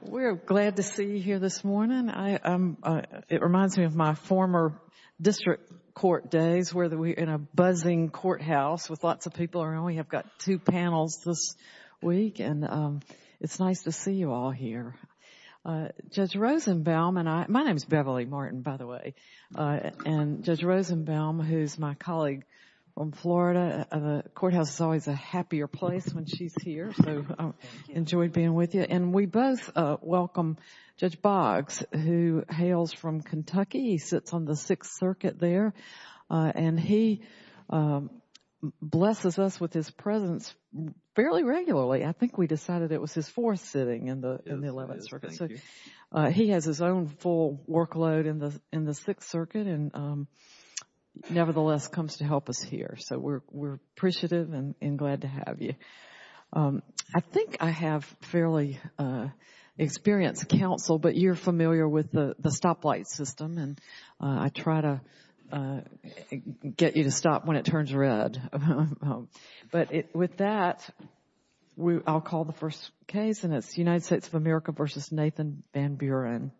We are glad to see you here this morning. It reminds me of my former district court days where we were in a buzzing courthouse with lots of people around. We have got two panels this week, and it is nice to see you all here. Judge Rosenbaum, and my name is Beverly Martin, by the way, and Judge Rosenbaum, who is my And we both welcome Judge Boggs, who hails from Kentucky. He sits on the Sixth Circuit there, and he blesses us with his presence fairly regularly. I think we decided it was his fourth sitting in the Eleventh Circuit. So he has his own full workload in the Sixth Circuit and nevertheless comes to help us here. So we are appreciative and glad to have you. I think I have fairly experienced counsel, but you are familiar with the stoplight system, and I try to get you to stop when it turns red. But with that, I will call the first case, and it is United States of America v. Nathan Van Buren.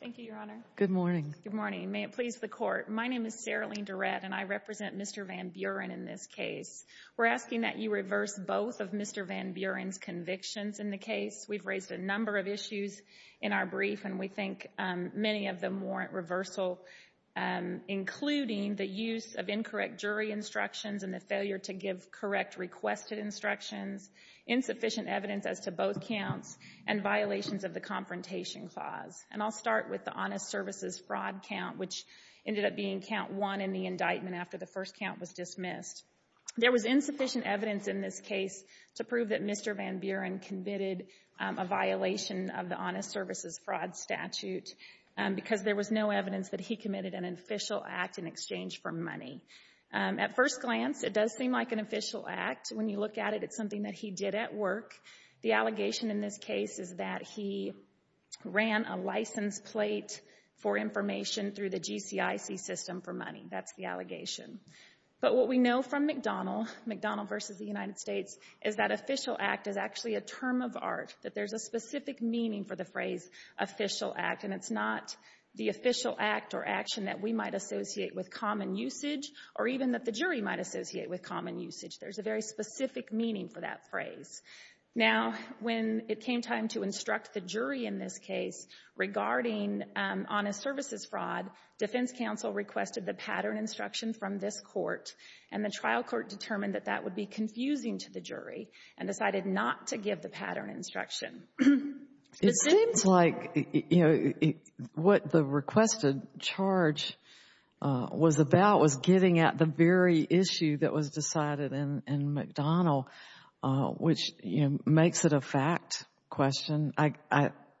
Thank you, Your Honor. Good morning. Good morning. May it please the Court. My name is Seralene Durrett, and I represent Mr. Van Buren in this case. We are asking that you reverse both of Mr. Van Buren's convictions in the case. We have raised a number of issues in our brief, and we think many of them warrant reversal, including the use of incorrect jury instructions and the failure to give correct requested instructions, insufficient evidence as to both counts, and violations of the Confrontation Clause. And I will start with the Honest Services fraud count, which ended up being count one in the indictment after the first count was dismissed. There was insufficient evidence in this case to prove that Mr. Van Buren committed a violation of the Honest Services fraud statute because there was no evidence that he committed an official act in exchange for money. At first glance, it does seem like an official act. When you look at it, it is something that he did at work. The allegation in this case is that he ran a license plate for information through the GCIC system for money. That's the allegation. But what we know from McDonnell, McDonnell v. The United States, is that official act is actually a term of art, that there's a specific meaning for the phrase official act, and it's not the official act or action that we might associate with common usage or even that the jury might associate with common usage. There's a very specific meaning for that phrase. Now, when it came time to instruct the jury in this case regarding Honest Services fraud, defense counsel requested the pattern instruction from this court, and the trial court determined that that would be confusing to the jury and decided not to give the pattern instruction. It seems like what the requested charge was about was getting at the very issue that was makes it a fact question,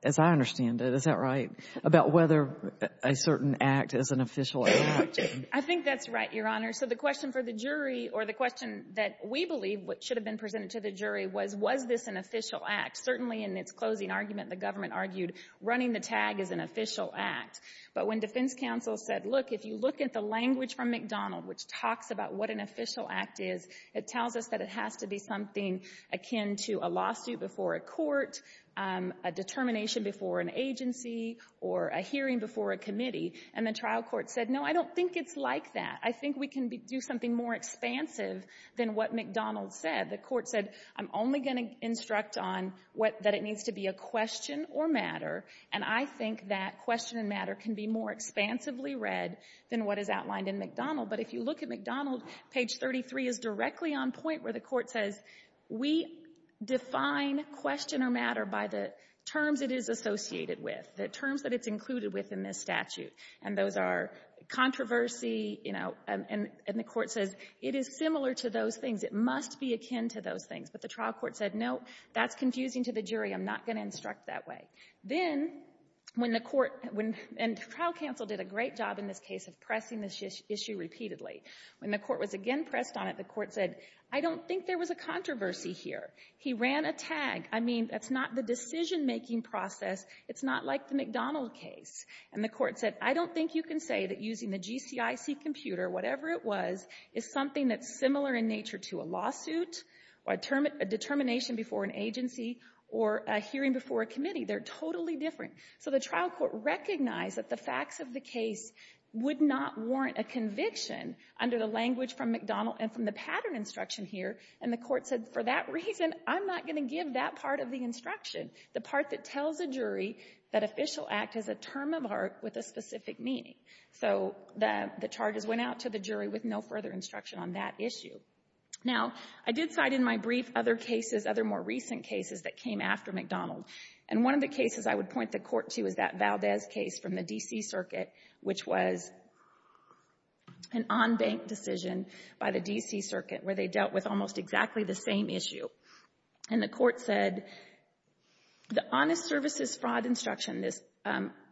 as I understand it, is that right? About whether a certain act is an official act. I think that's right, Your Honor. So the question for the jury or the question that we believe should have been presented to the jury was, was this an official act? Certainly in its closing argument, the government argued running the tag is an official act. But when defense counsel said, look, if you look at the language from McDonnell, which talks about what an official act is, it tells us that it has to be something akin to a lawsuit before a court, a determination before an agency, or a hearing before a committee. And the trial court said, no, I don't think it's like that. I think we can do something more expansive than what McDonnell said. The court said, I'm only going to instruct on what that it needs to be a question or matter. And I think that question and matter can be more You look at McDonnell, page 33 is directly on point where the court says, we define question or matter by the terms it is associated with, the terms that it's included with in this statute. And those are controversy, you know, and the court says, it is similar to those things. It must be akin to those things. But the trial court said, no, that's confusing to the jury. I'm not going to instruct that way. Then, when the court, and trial counsel did a great in this case of pressing this issue repeatedly. When the court was again pressed on it, the court said, I don't think there was a controversy here. He ran a tag. I mean, that's not the decision-making process. It's not like the McDonnell case. And the court said, I don't think you can say that using the GCIC computer, whatever it was, is something that's similar in nature to a lawsuit, a determination before an agency, or a hearing before a committee. They're totally different. So the trial court recognized that the facts of the case would not warrant a conviction under the language from McDonnell and from the pattern instruction here. And the court said, for that reason, I'm not going to give that part of the instruction, the part that tells a jury that official act is a term of art with a specific meaning. So the charges went out to the jury with no further instruction on that issue. Now, I did cite in my brief other cases, other more recent cases that came after McDonnell. And one of the cases I would point the court to is that Valdez case from the D.C. Circuit, which was an on-bank decision by the D.C. Circuit, where they dealt with almost exactly the same issue. And the court said, the honest services fraud instruction, this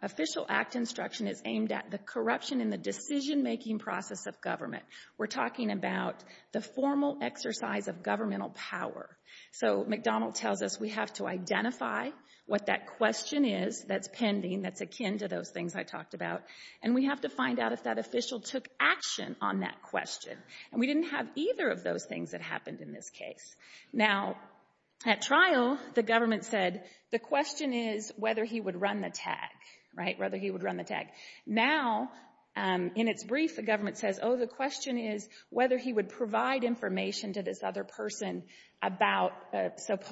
official act instruction, is aimed at the corruption in the decision-making process of government. We're talking about the formal exercise of governmental power. So McDonnell tells us we have to identify what that question is that's pending, that's akin to those things I talked about, and we have to find out if that official took action on that question. And we didn't have either of those things that happened in this case. Now, at trial, the government said, the question is whether he would run the tag, right, whether he would run the tag. Now, in its brief, the government says, oh, the question is whether he would provide information to this other person about a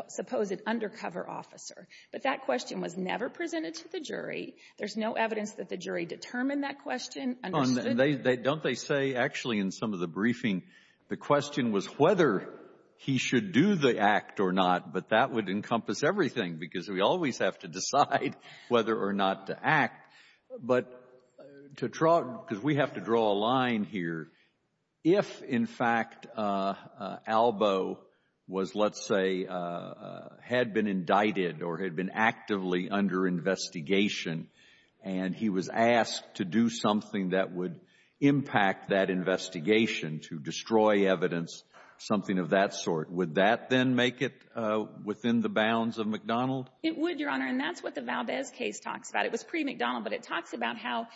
supposed undercover officer. But that question was never presented to the jury. There's no evidence that the jury determined that question, understood it. Don't they say, actually, in some of the briefing, the question was whether he should do the act or not, but that would encompass everything, because we always have to decide whether or not to act. But to draw, because we have to draw a line here, if, in fact, Albo was, let's say, had been indicted or had been actively under investigation, and he was asked to do something that would impact that investigation to destroy evidence, something of that sort, would that then make it within the bounds of McDonnell? It would, Your Honor, and that's what the Valdez case talks about. It was pre-McDonnell, but it talks about how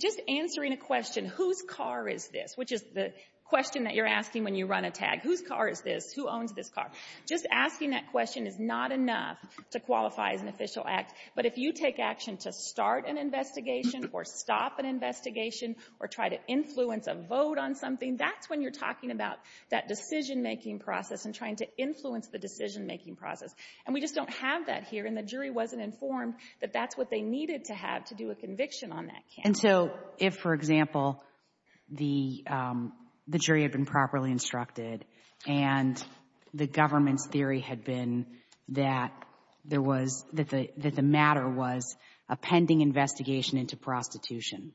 just answering a question, whose car is this, which is the question that you're asking when you run a tag, whose car is this, who owns this car, just asking that question is not enough to qualify as an official act. But if you take action to start an investigation or stop an investigation or try to influence a vote on something, that's when you're talking about that decisionmaking process and trying to influence the decisionmaking process. And we just don't have that here, and the jury wasn't informed that that's what they needed to have to do a conviction on that case. And so, if, for example, the jury had been properly instructed and the government's theory had been that the matter was a pending investigation into prostitution,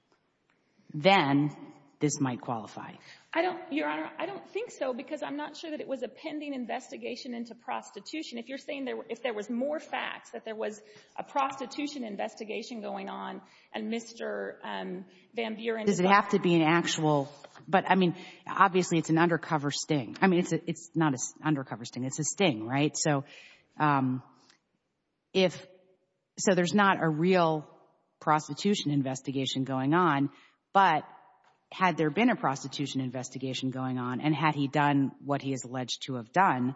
then this might qualify? I don't, Your Honor, I don't think so, because I'm not sure that it was a pending investigation into prostitution. If you're saying there were — if there was more facts, that there was a prostitution investigation going on, and Mr. Van Buren is not — Does it have to be an actual — but, I mean, obviously, it's an undercover sting. I mean, it's not an undercover sting. It's a sting, right? So if — so there's not a real prostitution investigation going on, but had there been a prostitution investigation going on, and had he done what he is alleged to have done,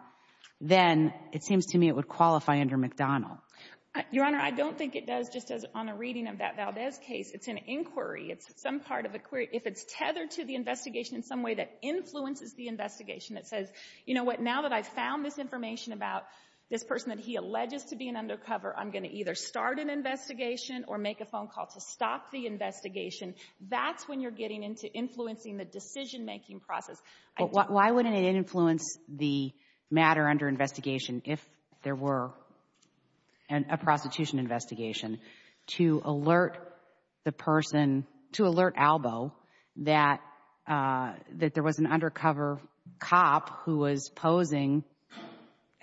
then it seems to me it would qualify under McDonnell. Your Honor, I don't think it does, just as on a reading of that Valdez case. It's an inquiry. It's some part of a query. If it's tethered to the investigation in some way that influences the investigation, it says, you know what, now that I've found this information about this person that he alleges to be an undercover, I'm going to either start an investigation or make a phone call to stop the investigation. That's when you're getting into influencing the decision-making process. But why wouldn't it influence the matter under investigation if there were a prostitution investigation to alert the person — to alert Albo that there was an undercover cop who was posing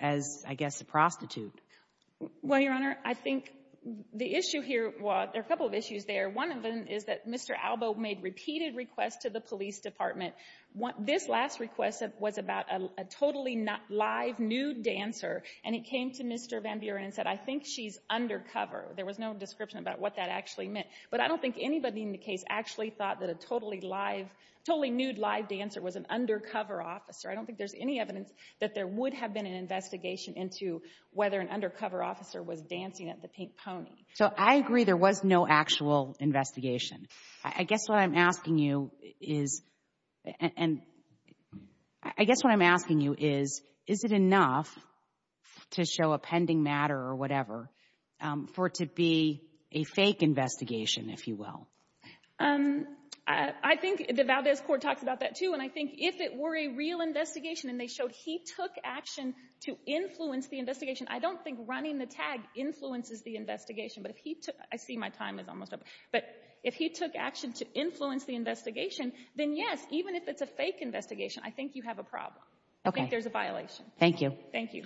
as, I guess, a prostitute? Well, Your Honor, I think the issue here — well, there are a couple of issues there. One of them is that Mr. Albo made repeated requests to the police department. This last request was about a totally live nude dancer, and he came to Mr. Van Buren and said, I think she's undercover. There was no description about what that actually meant. But I don't think anybody in the case actually thought that a totally live — totally nude live dancer was an undercover officer. I don't think there's any evidence that there would have been an undercover officer was dancing at the Pink Pony. So I agree there was no actual investigation. I guess what I'm asking you is — and I guess what I'm asking you is, is it enough to show a pending matter or whatever for it to be a fake investigation, if you will? I think the Valdez court talks about that, too. And I think if it were a real investigation and they showed he took action to influence the investigation — I don't think running the tag influences the investigation, but if he took — I see my time is almost up — but if he took action to influence the investigation, then yes, even if it's a fake investigation, I think you have a problem. I think there's a violation. Thank you. Thank you.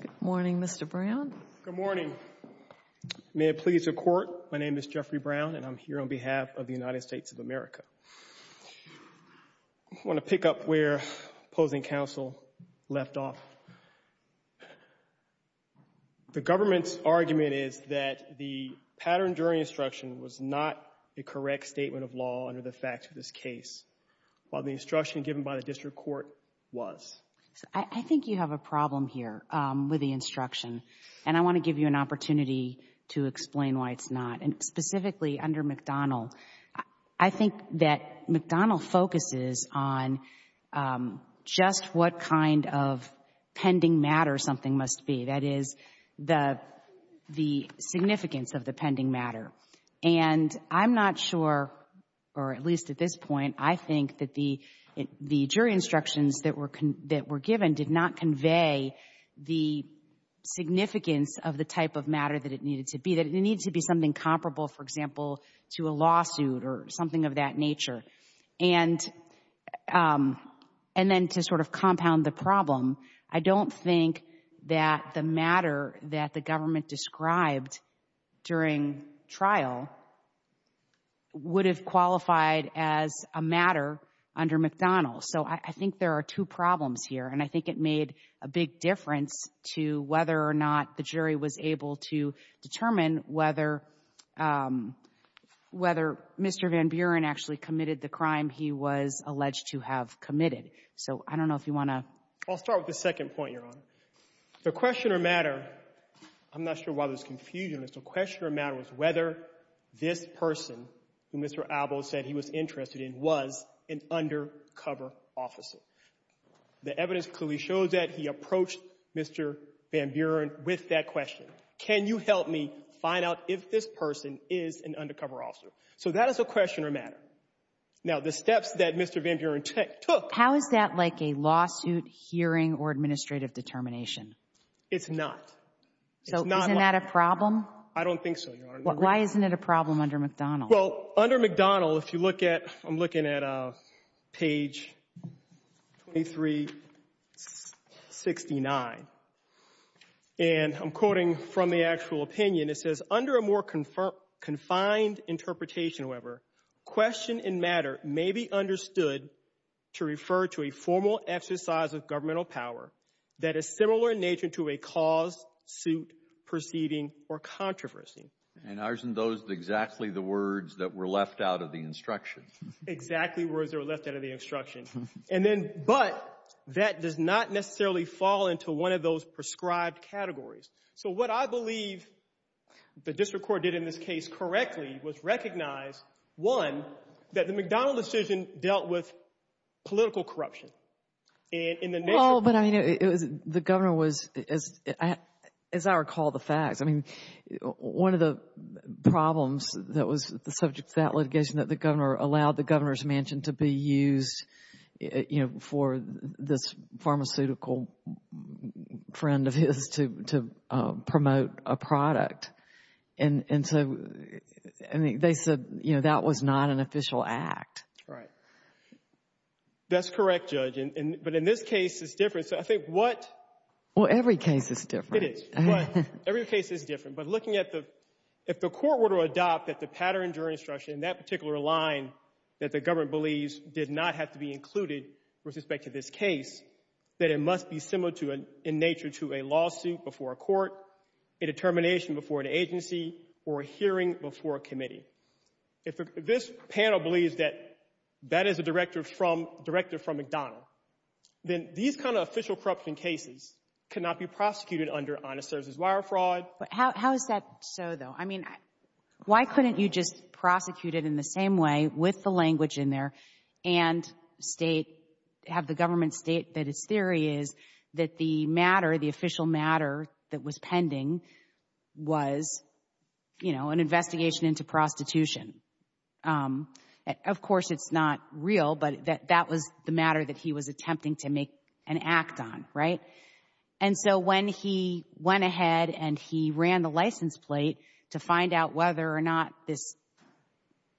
Good morning, Mr. Brown. Good morning. May it please the Court, my name is Jeffrey Brown, and I'm here on behalf of the United States of America. I want to pick up where opposing counsel left off. The government's argument is that the pattern during instruction was not a correct statement of law under the facts of this case, while the instruction given by the district court was. I think you have a problem here with the instruction, and I want to give you an opportunity to explain why it's not. And specifically under McDonnell, I think that McDonnell focuses on just what kind of pending matter something must be, that is, the significance of the pending that were given did not convey the significance of the type of matter that it needed to be. That it needed to be something comparable, for example, to a lawsuit or something of that nature. And then to sort of compound the problem, I don't think that the matter that the government described during trial would have qualified as a matter under McDonnell. So I think there are two problems here, and I think it made a big difference to whether or not the jury was able to determine whether Mr. Van Buren actually committed the crime he was alleged to have committed. So I don't know if you want to? I'll start with the second point, Your Honor. The questioner matter, I'm not sure why there's confusion, but the questioner matter was whether this person who Mr. Albo said he was interested in was an undercover officer. The evidence clearly shows that he approached Mr. Van Buren with that question. Can you help me find out if this person is an undercover officer? So that is a questioner matter. Now, the steps that Mr. Van Buren took— How is that like a lawsuit, hearing, or administrative determination? It's not. So isn't that a problem? I don't think so, Your Honor. Why isn't it a problem under McDonnell? Well, under McDonnell, if you look at—I'm looking at page 2369, and I'm quoting from the actual opinion. It says, Under a more confined interpretation, however, question and matter may be understood to refer to a formal exercise of governmental power that is similar in nature to a cause, suit, proceeding, or controversy. And aren't those exactly the words that were left out of the instruction? Exactly words that were left out of the instruction. And then—but that does not necessarily fall into one of those prescribed categories. So what I believe the district court did in this case correctly was recognize, one, that the McDonnell decision dealt with political corruption. And in the— But, I mean, the governor was—as I recall the facts, I mean, one of the problems that was the subject of that litigation, that the governor allowed the governor's mansion to be used, you know, for this pharmaceutical friend of his to promote a product. And so, I mean, they said, you know, that was not an official act. Right. That's correct, Judge. But in this case, it's different. So I think what— Well, every case is different. It is. Every case is different. But looking at the—if the court were to adopt that the pattern during instruction, that particular line that the government believes did not have to be included with respect to this case, that it must be similar in nature to a lawsuit before a court, a determination before an agency, or a hearing before a committee. If this panel believes that that is a director from—director from McDonnell, then these kind of official corruption cases cannot be prosecuted under honest services. Wire fraud— But how is that so, though? I mean, why couldn't you just prosecute it in the same way with the language in there and state—have the government state that its theory is that the matter, the official matter that was pending was, you know, an investigation into prostitution? Of course, it's not real, but that was the matter that he was attempting to make an act on, right? And so when he went ahead and he ran the license plate to find out whether or not this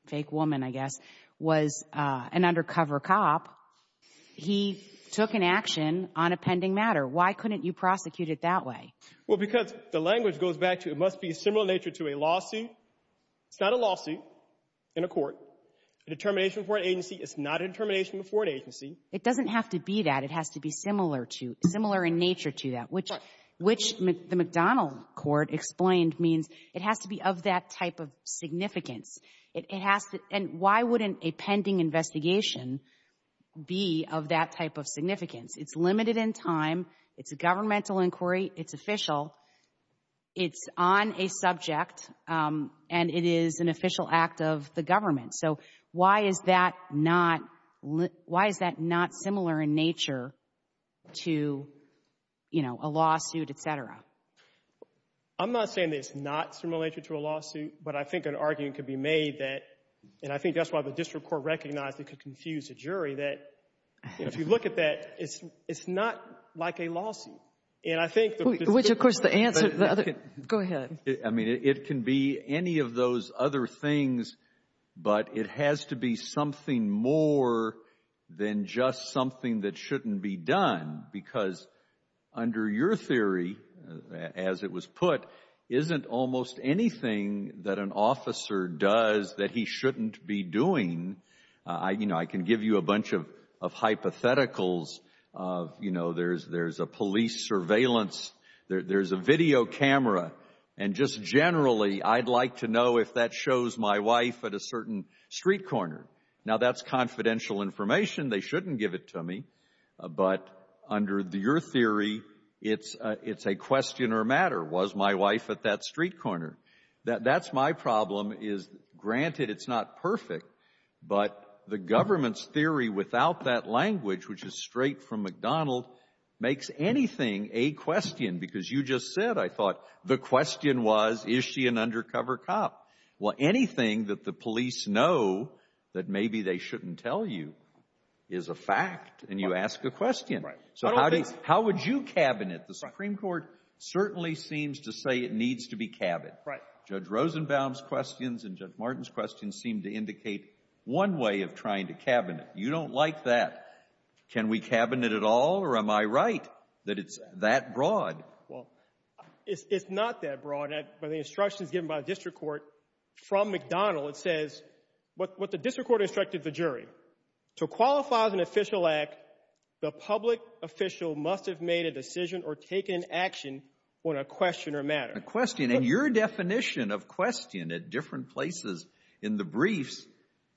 fake woman, I guess, was an undercover cop, he took an action on a pending matter. Why couldn't you prosecute it that way? Well, because the language goes back to it must be similar in nature to a lawsuit. It's not a lawsuit in a court. A determination before an agency is not a determination before an agency. It doesn't have to be that. It has to be similar to—similar in nature to that, which— Right. —which the McDonnell court explained means it has to be of that type of significance. It has to—and why wouldn't a pending investigation be of that type of significance? It's limited in time. It's a governmental inquiry. It's official. It's on a subject, and it is an official act of the government. So why is that not—why is that not similar in nature to, you know, a lawsuit, et cetera? I'm not saying that it's not similar in nature to a lawsuit, but I think an argument could be made that—and I think that's why the district court recognized it could confuse a jury—that if you look at that, it's not like a lawsuit. And I think the district court— Which, of course, the answer—go ahead. I mean, it can be any of those other things, but it has to be something more than just something that shouldn't be done, because under your theory, as it was put, isn't almost anything that an officer does that he shouldn't be doing—you know, I can give you a bunch of hypotheticals of, you know, there's a police surveillance, there's a video camera, and just generally, I'd like to know if that shows my wife at a certain street corner. Now, that's confidential information. They shouldn't give it to me, but under your theory, it's a question or a matter. Was my wife at that street corner? That's my problem, is, granted, it's not perfect, but the government's theory without that language, which is straight from McDonald, makes anything a question, because you just said, I thought, the question was, is she an undercover cop? Well, anything that the police know that maybe they shouldn't tell you is a fact, and you ask a question. Right. So how would you cabinet? The Supreme Court certainly seems to say it needs to be cabinet. Judge Rosenbaum's questions and Judge Martin's questions seem to indicate one way of trying to cabinet. You don't like that. Can we cabinet at all, or am I right that it's that broad? Well, it's not that broad, but the instructions given by the district court from McDonald, it says what the district court instructed the jury. To qualify as an official act, the public official must have made a decision or taken action on a question or matter. And your definition of question at different places in the briefs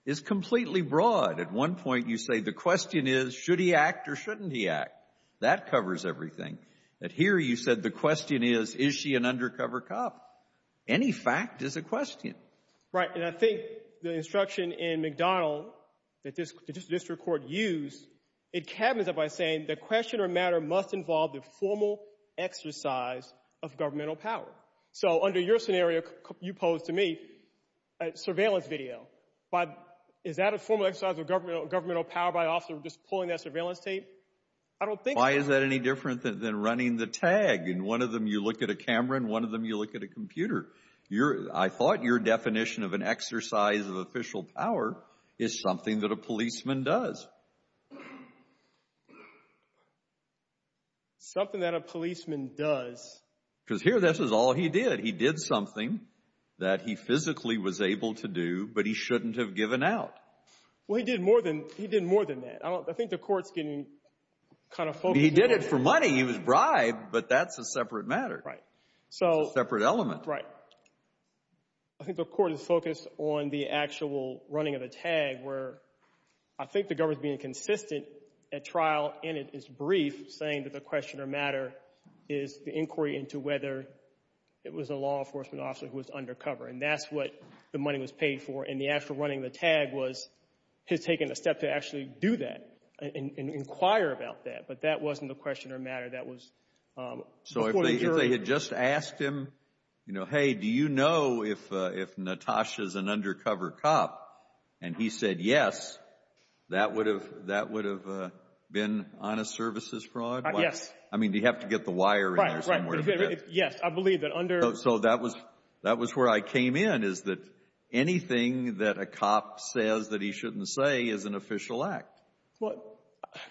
is completely broad. At one point, you say the question is, should he act or shouldn't he act? That covers everything. But here, you said the question is, is she an undercover cop? Any fact is a question. Right, and I think the instruction in McDonald that the district court used, it cabinets it by saying the question or matter must involve the formal exercise of governmental power. So under your scenario, you pose to me a surveillance video. Is that a formal exercise of governmental power by officer just pulling that surveillance tape? I don't think so. Why is that any different than running the tag? In one of them, you look at a camera, in one of them, you look at a computer. I thought your definition of an exercise of official power is something that a policeman does. Something that a policeman does. Because here, this is all he did. He did something that he physically was able to do, but he shouldn't have given out. Well, he did more than that. I think the court's getting kind of focused. He did it for money. He was bribed, but that's a separate matter. Right. It's a separate element. Right. I think the court is focused on the actual running of the tag, where I think the government's being consistent at trial, and it is brief, saying that the question or matter is the inquiry into whether it was a law enforcement officer who was undercover, and that's what the money was paid for, and the actual running of the tag was his taking a step to actually do that and inquire about that, but that wasn't the question or matter. So, if they had just asked him, hey, do you know if Natasha's an undercover cop, and he said yes, that would have been honest services fraud? Yes. I mean, do you have to get the wire in there somewhere? Yes. I believe that under— So, that was where I came in, is that anything that a cop says that he shouldn't say is an official act. Well,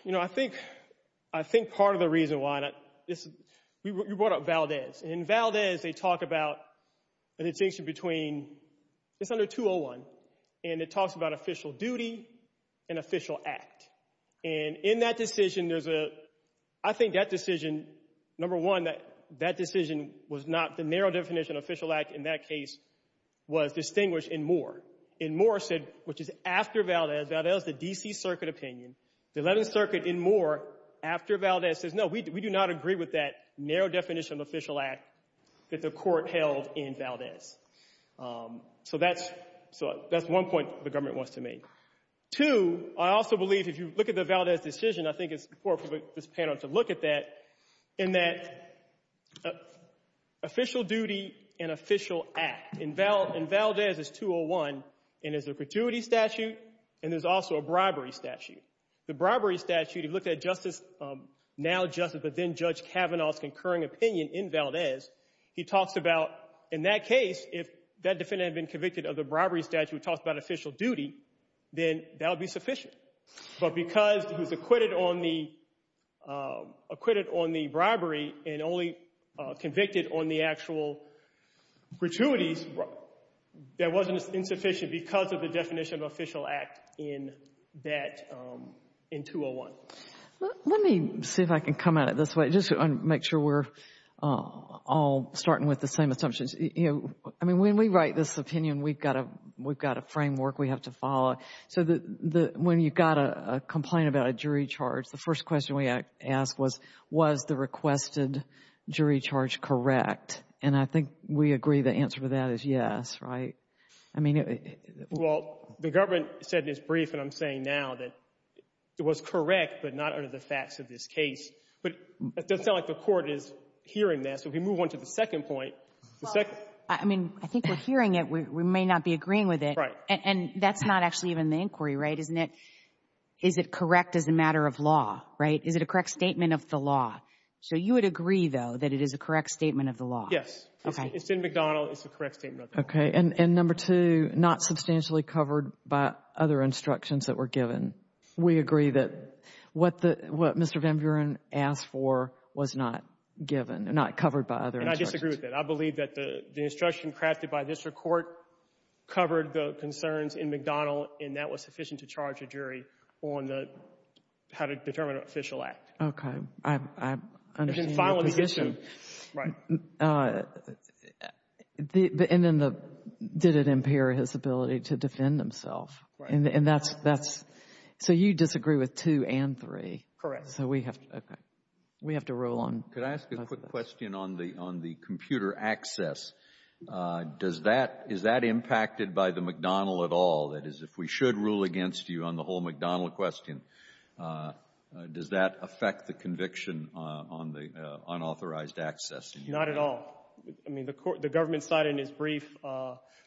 you know, I think part of the reason why—you brought up Valdez, and in Valdez, they talk about a distinction between—it's under 201, and it talks about official duty and official act, and in that decision, there's a—I think that decision, number one, that decision was not—the narrow definition of official act in that case was distinguished in Moore, and Moore said, which is after Valdez—Valdez is the D.C. Circuit opinion—the 11th Circuit in Moore, after Valdez, says, no, we do not agree with that narrow definition of official act that the court held in Valdez. So, that's one point the government wants to make. Two, I also believe, if you look at the Valdez decision, I think it's important for this panel to look at that, in that official duty and official act. In Valdez, it's 201, and there's a gratuity statute, and there's also a bribery statute. The bribery statute, if you look at Justice—now Justice, but then Judge Kavanaugh's concurring opinion in Valdez, he talks about, in that case, if that defendant had been convicted of the bribery statute, he talks about official duty, then that would be sufficient. But because he was acquitted on the—acquitted on the bribery and only convicted on the actual gratuities, that wasn't insufficient because of the definition of official act in that—in 201. Let me see if I can come at it this way, just to make sure we're all starting with the same assumptions. I mean, when we write this opinion, we've got a—we've got a framework we have to follow. So the—when you've got a complaint about a jury charge, the first question we ask was, was the requested jury charge correct? And I think we agree the answer to that is yes, right? I mean— Well, the government said in its brief, and I'm saying now, that it was correct, but not under the facts of this case. But it doesn't sound like the Court is hearing that. So if we move on to the second point, the second— I mean, I think we're hearing it. We may not be agreeing with it. Right. And that's not actually even the inquiry, right? Isn't it—is it correct as a matter of law, right? Is it a correct statement of the law? So you would agree, though, that it is a correct statement of the law? Yes. Okay. It's in McDonald. It's a correct statement of the law. Okay. And number two, not substantially covered by other instructions that were given. We agree that what the—what Mr. Van Buren asked for was not given, not covered by other instructions. And I disagree with that. I believe that the instruction crafted by this Court covered the concerns in McDonald, and that was sufficient to charge a jury on the—how to determine an official act. Okay. I understand your position. Right. And then the—did it impair his ability to defend himself? Right. And that's—so you disagree with two and three? Correct. So we have to—okay. We have to rule on— Could I ask a quick question on the computer access? Does that—is that impacted by the McDonald at all? That is, if we should rule against you on the whole McDonald question, does that affect the conviction on the unauthorized access? Not at all. I mean, the Government cited in its brief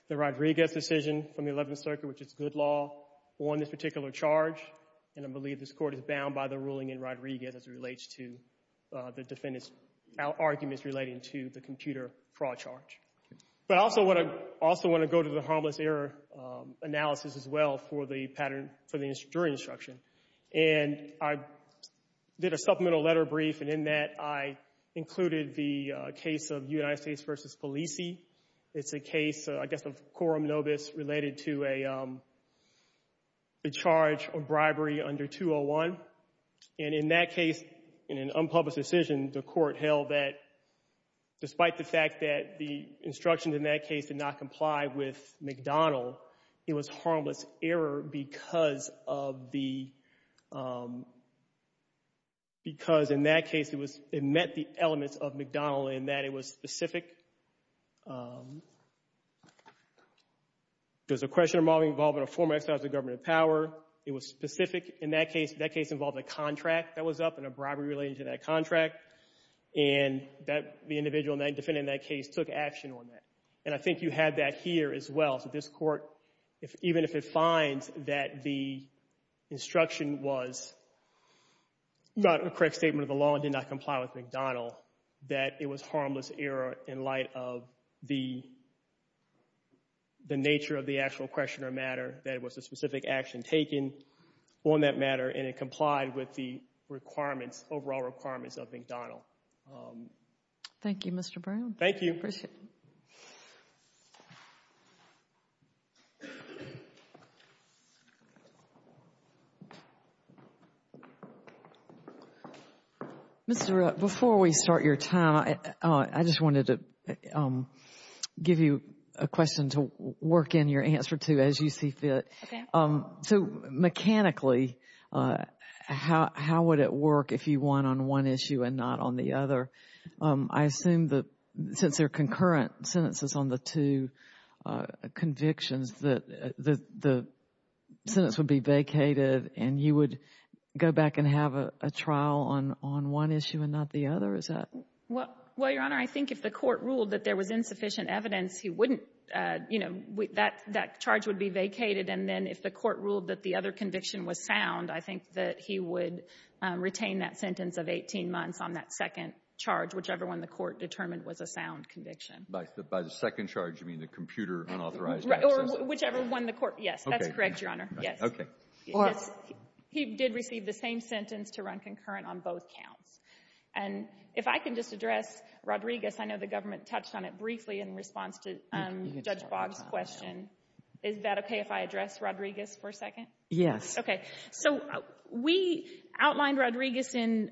the Rodriguez decision from the Eleventh Circuit, which is good law, on this particular charge. And I believe this Court is bound by the ruling in Rodriguez as it relates to the defendant's arguments relating to the computer fraud charge. But I also want to—also want to go to the harmless error analysis as well for the pattern for the jury instruction. And I did a supplemental letter brief, and in that I included the case of United States v. Polisi. It's a case, I guess, of quorum nobis related to a charge of bribery under 201. And in that case, in an unpublished decision, the Court held that despite the fact that the instructions in that case did not comply with McDonald, it was harmless error because of the—because in that case, it was—it met the elements of McDonald in that it was specific. There's a question involving involvement of former exiles of government of power. It was specific in that case. That case involved a contract that was up and a bribery related to that contract. And that—the individual defending that case took action on that. And I think you had that here as well. So this Court, even if it finds that the instruction was not a correct statement of the law and did not comply with McDonald, that it was harmless error in light of the nature of the question or matter that it was a specific action taken on that matter and it complied with the requirements, overall requirements of McDonald. Thank you, Mr. Brown. Thank you. Mr. Rupp, before we start your time, I just wanted to give you a question to work in your answer to as you see fit. So mechanically, how would it work if you won on one issue and not on the other? I assume that since there are concurrent sentences on the two convictions, that the sentence would be vacated and you would go back and have a trial on one issue and not the other? Is that— Well, Your Honor, I think if the Court ruled that there was insufficient evidence, he wouldn't, you know, that charge would be vacated. And then if the Court ruled that the other conviction was sound, I think that he would retain that sentence of 18 months on that second charge, whichever one the Court determined was a sound conviction. But by the second charge, you mean the computer unauthorized access? Or whichever one the Court—yes. That's correct, Your Honor. Yes. Okay. Well, he did receive the same sentence to run concurrent on both counts. And if I can just address Rodriguez, I know the government touched on it briefly in response to Judge Boggs' question. Is that okay if I address Rodriguez for a second? Yes. Okay. So we outlined Rodriguez in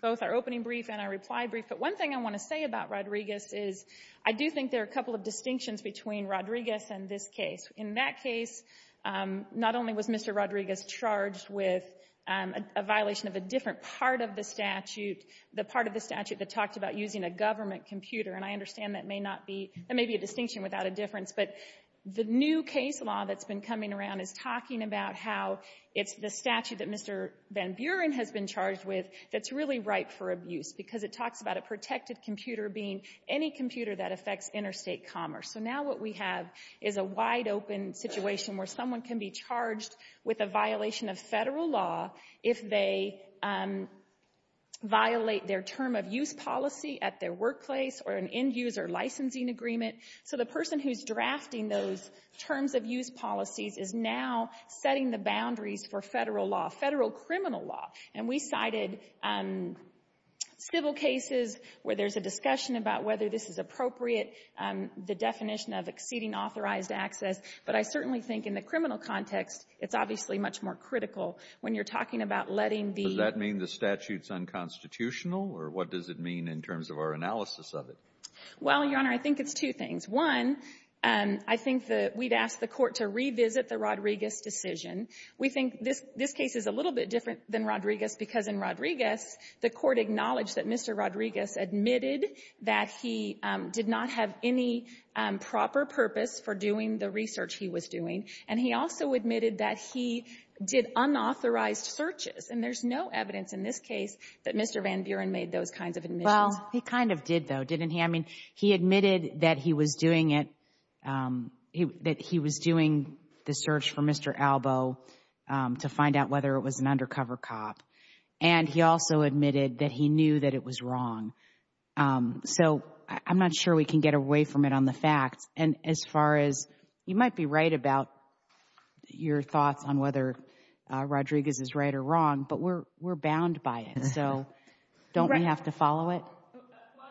both our opening brief and our reply brief. But one thing I want to say about Rodriguez is I do think there are a couple of distinctions between Rodriguez and this case. In that case, not only was Mr. Rodriguez charged with a violation of a different part of the statute, the part of the statute that talked about using a government computer. And I understand that may not be—that may be a distinction without a difference. But the new case law that's been coming around is talking about how it's the statute that Mr. Van Buren has been charged with that's really ripe for abuse, because it talks about a protected computer being any computer that affects interstate commerce. So now what we have is a wide-open situation where someone can be charged with a or an end-user licensing agreement. So the person who's drafting those terms of use policies is now setting the boundaries for Federal law, Federal criminal law. And we cited civil cases where there's a discussion about whether this is appropriate, the definition of exceeding authorized access. But I certainly think in the criminal context, it's obviously much more critical when you're talking about letting the— Does that mean the statute's unconstitutional? Or what does it mean in terms of our analysis of it? Well, Your Honor, I think it's two things. One, I think that we'd ask the Court to revisit the Rodriguez decision. We think this case is a little bit different than Rodriguez because in Rodriguez, the Court acknowledged that Mr. Rodriguez admitted that he did not have any proper purpose for doing the research he was doing. And he also admitted that he did unauthorized searches. And there's no evidence in this case that Mr. Van Buren made those kinds of admissions. Well, he kind of did, though, didn't he? I mean, he admitted that he was doing it, that he was doing the search for Mr. Albo to find out whether it was an undercover cop. And he also admitted that he knew that it was wrong. So I'm not sure we can get away from it on the facts. And as far as—you might be right about your thoughts on whether Rodriguez is right or wrong, we're bound by it. So don't we have to follow it?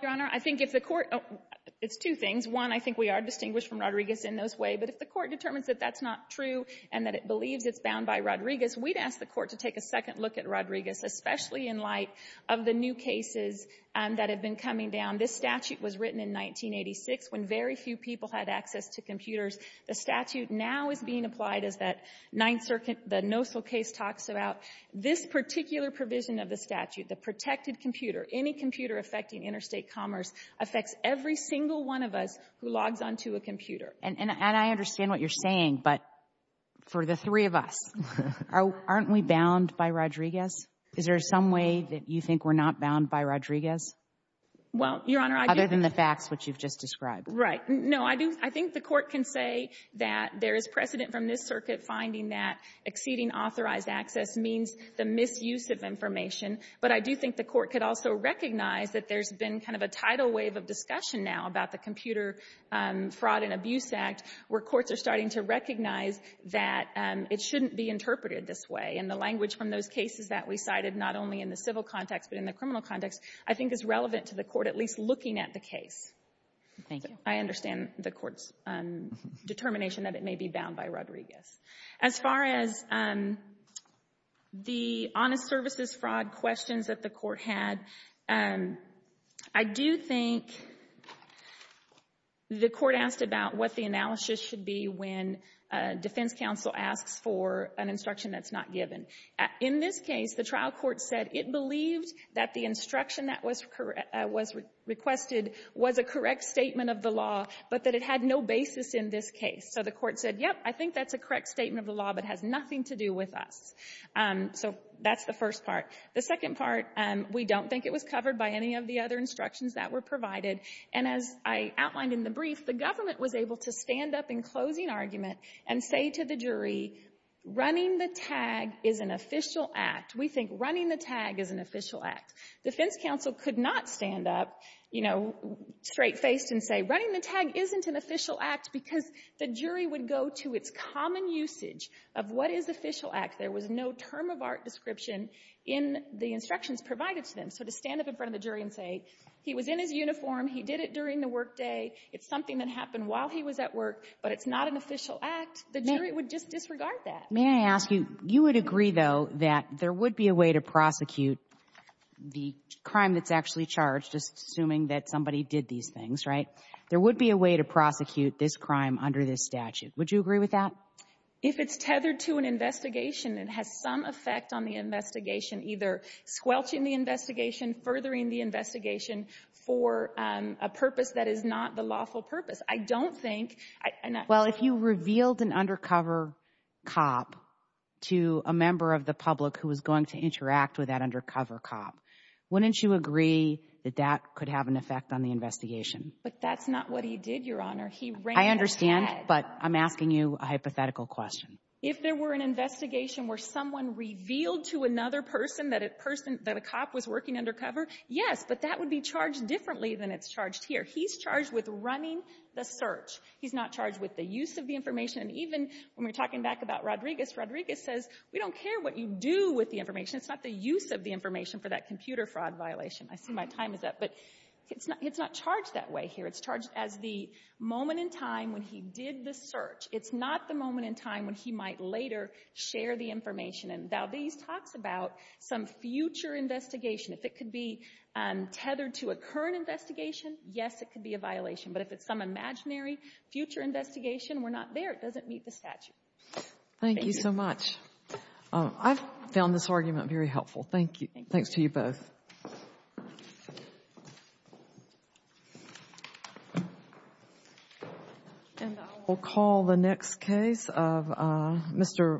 Your Honor, I think if the Court—it's two things. One, I think we are distinguished from Rodriguez in those ways. But if the Court determines that that's not true and that it believes it's bound by Rodriguez, we'd ask the Court to take a second look at Rodriguez, especially in light of the new cases that have been coming down. This statute was written in 1986 when very few people had access to computers. The statute now is being applied as that Ninth Circuit—the Nossel case talks about this particular provision of the statute. The protected computer, any computer affecting interstate commerce, affects every single one of us who logs onto a computer. And I understand what you're saying, but for the three of us, aren't we bound by Rodriguez? Is there some way that you think we're not bound by Rodriguez? Well, Your Honor— Other than the facts which you've just described. Right. No, I think the Court can say that there is precedent from this circuit finding that the misuse of information, but I do think the Court could also recognize that there's been kind of a tidal wave of discussion now about the Computer Fraud and Abuse Act, where courts are starting to recognize that it shouldn't be interpreted this way. And the language from those cases that we cited, not only in the civil context, but in the criminal context, I think is relevant to the Court at least looking at the case. Thank you. I understand the Court's determination that it may be bound by Rodriguez. As far as the honest services fraud questions that the Court had, I do think the Court asked about what the analysis should be when a defense counsel asks for an instruction that's not given. In this case, the trial court said it believed that the instruction that was requested was a correct statement of the law, but that it had no basis in this case. So the Court said, yep, I think that's a correct statement of the law, but it has nothing to do with us. So that's the first part. The second part, we don't think it was covered by any of the other instructions that were provided. And as I outlined in the brief, the government was able to stand up in closing argument and say to the jury, running the tag is an official act. We think running the tag is an official act. Defense counsel could not stand up, you know, straight-faced and say running the jury would go to its common usage of what is official act. There was no term-of-art description in the instructions provided to them. So to stand up in front of the jury and say he was in his uniform, he did it during the workday, it's something that happened while he was at work, but it's not an official act, the jury would just disregard that. May I ask you, you would agree, though, that there would be a way to prosecute the crime that's actually charged, just assuming that somebody did these things, right? There would be a way to prosecute this crime under this statute. Would you agree with that? If it's tethered to an investigation and has some effect on the investigation, either squelching the investigation, furthering the investigation for a purpose that is not the lawful purpose. I don't think... Well, if you revealed an undercover cop to a member of the public who was going to interact with that undercover cop, wouldn't you agree that that could have an effect on the investigation? But that's not what he did, Your Honor. He ran his head. I understand, but I'm asking you a hypothetical question. If there were an investigation where someone revealed to another person that a person, that a cop was working undercover, yes, but that would be charged differently than it's charged here. He's charged with running the search. He's not charged with the use of the information. And even when we're talking back about Rodriguez, Rodriguez says, we don't care what you do with the information. It's not the use of the information for that computer fraud violation. I see my time is up. It's not charged that way here. It's charged as the moment in time when he did the search. It's not the moment in time when he might later share the information. And Valdez talks about some future investigation. If it could be tethered to a current investigation, yes, it could be a violation. But if it's some imaginary future investigation, we're not there. It doesn't meet the statute. Thank you. Thank you so much. I found this argument very helpful. Thank you. Thanks to you both. And I will call the next case of Mr.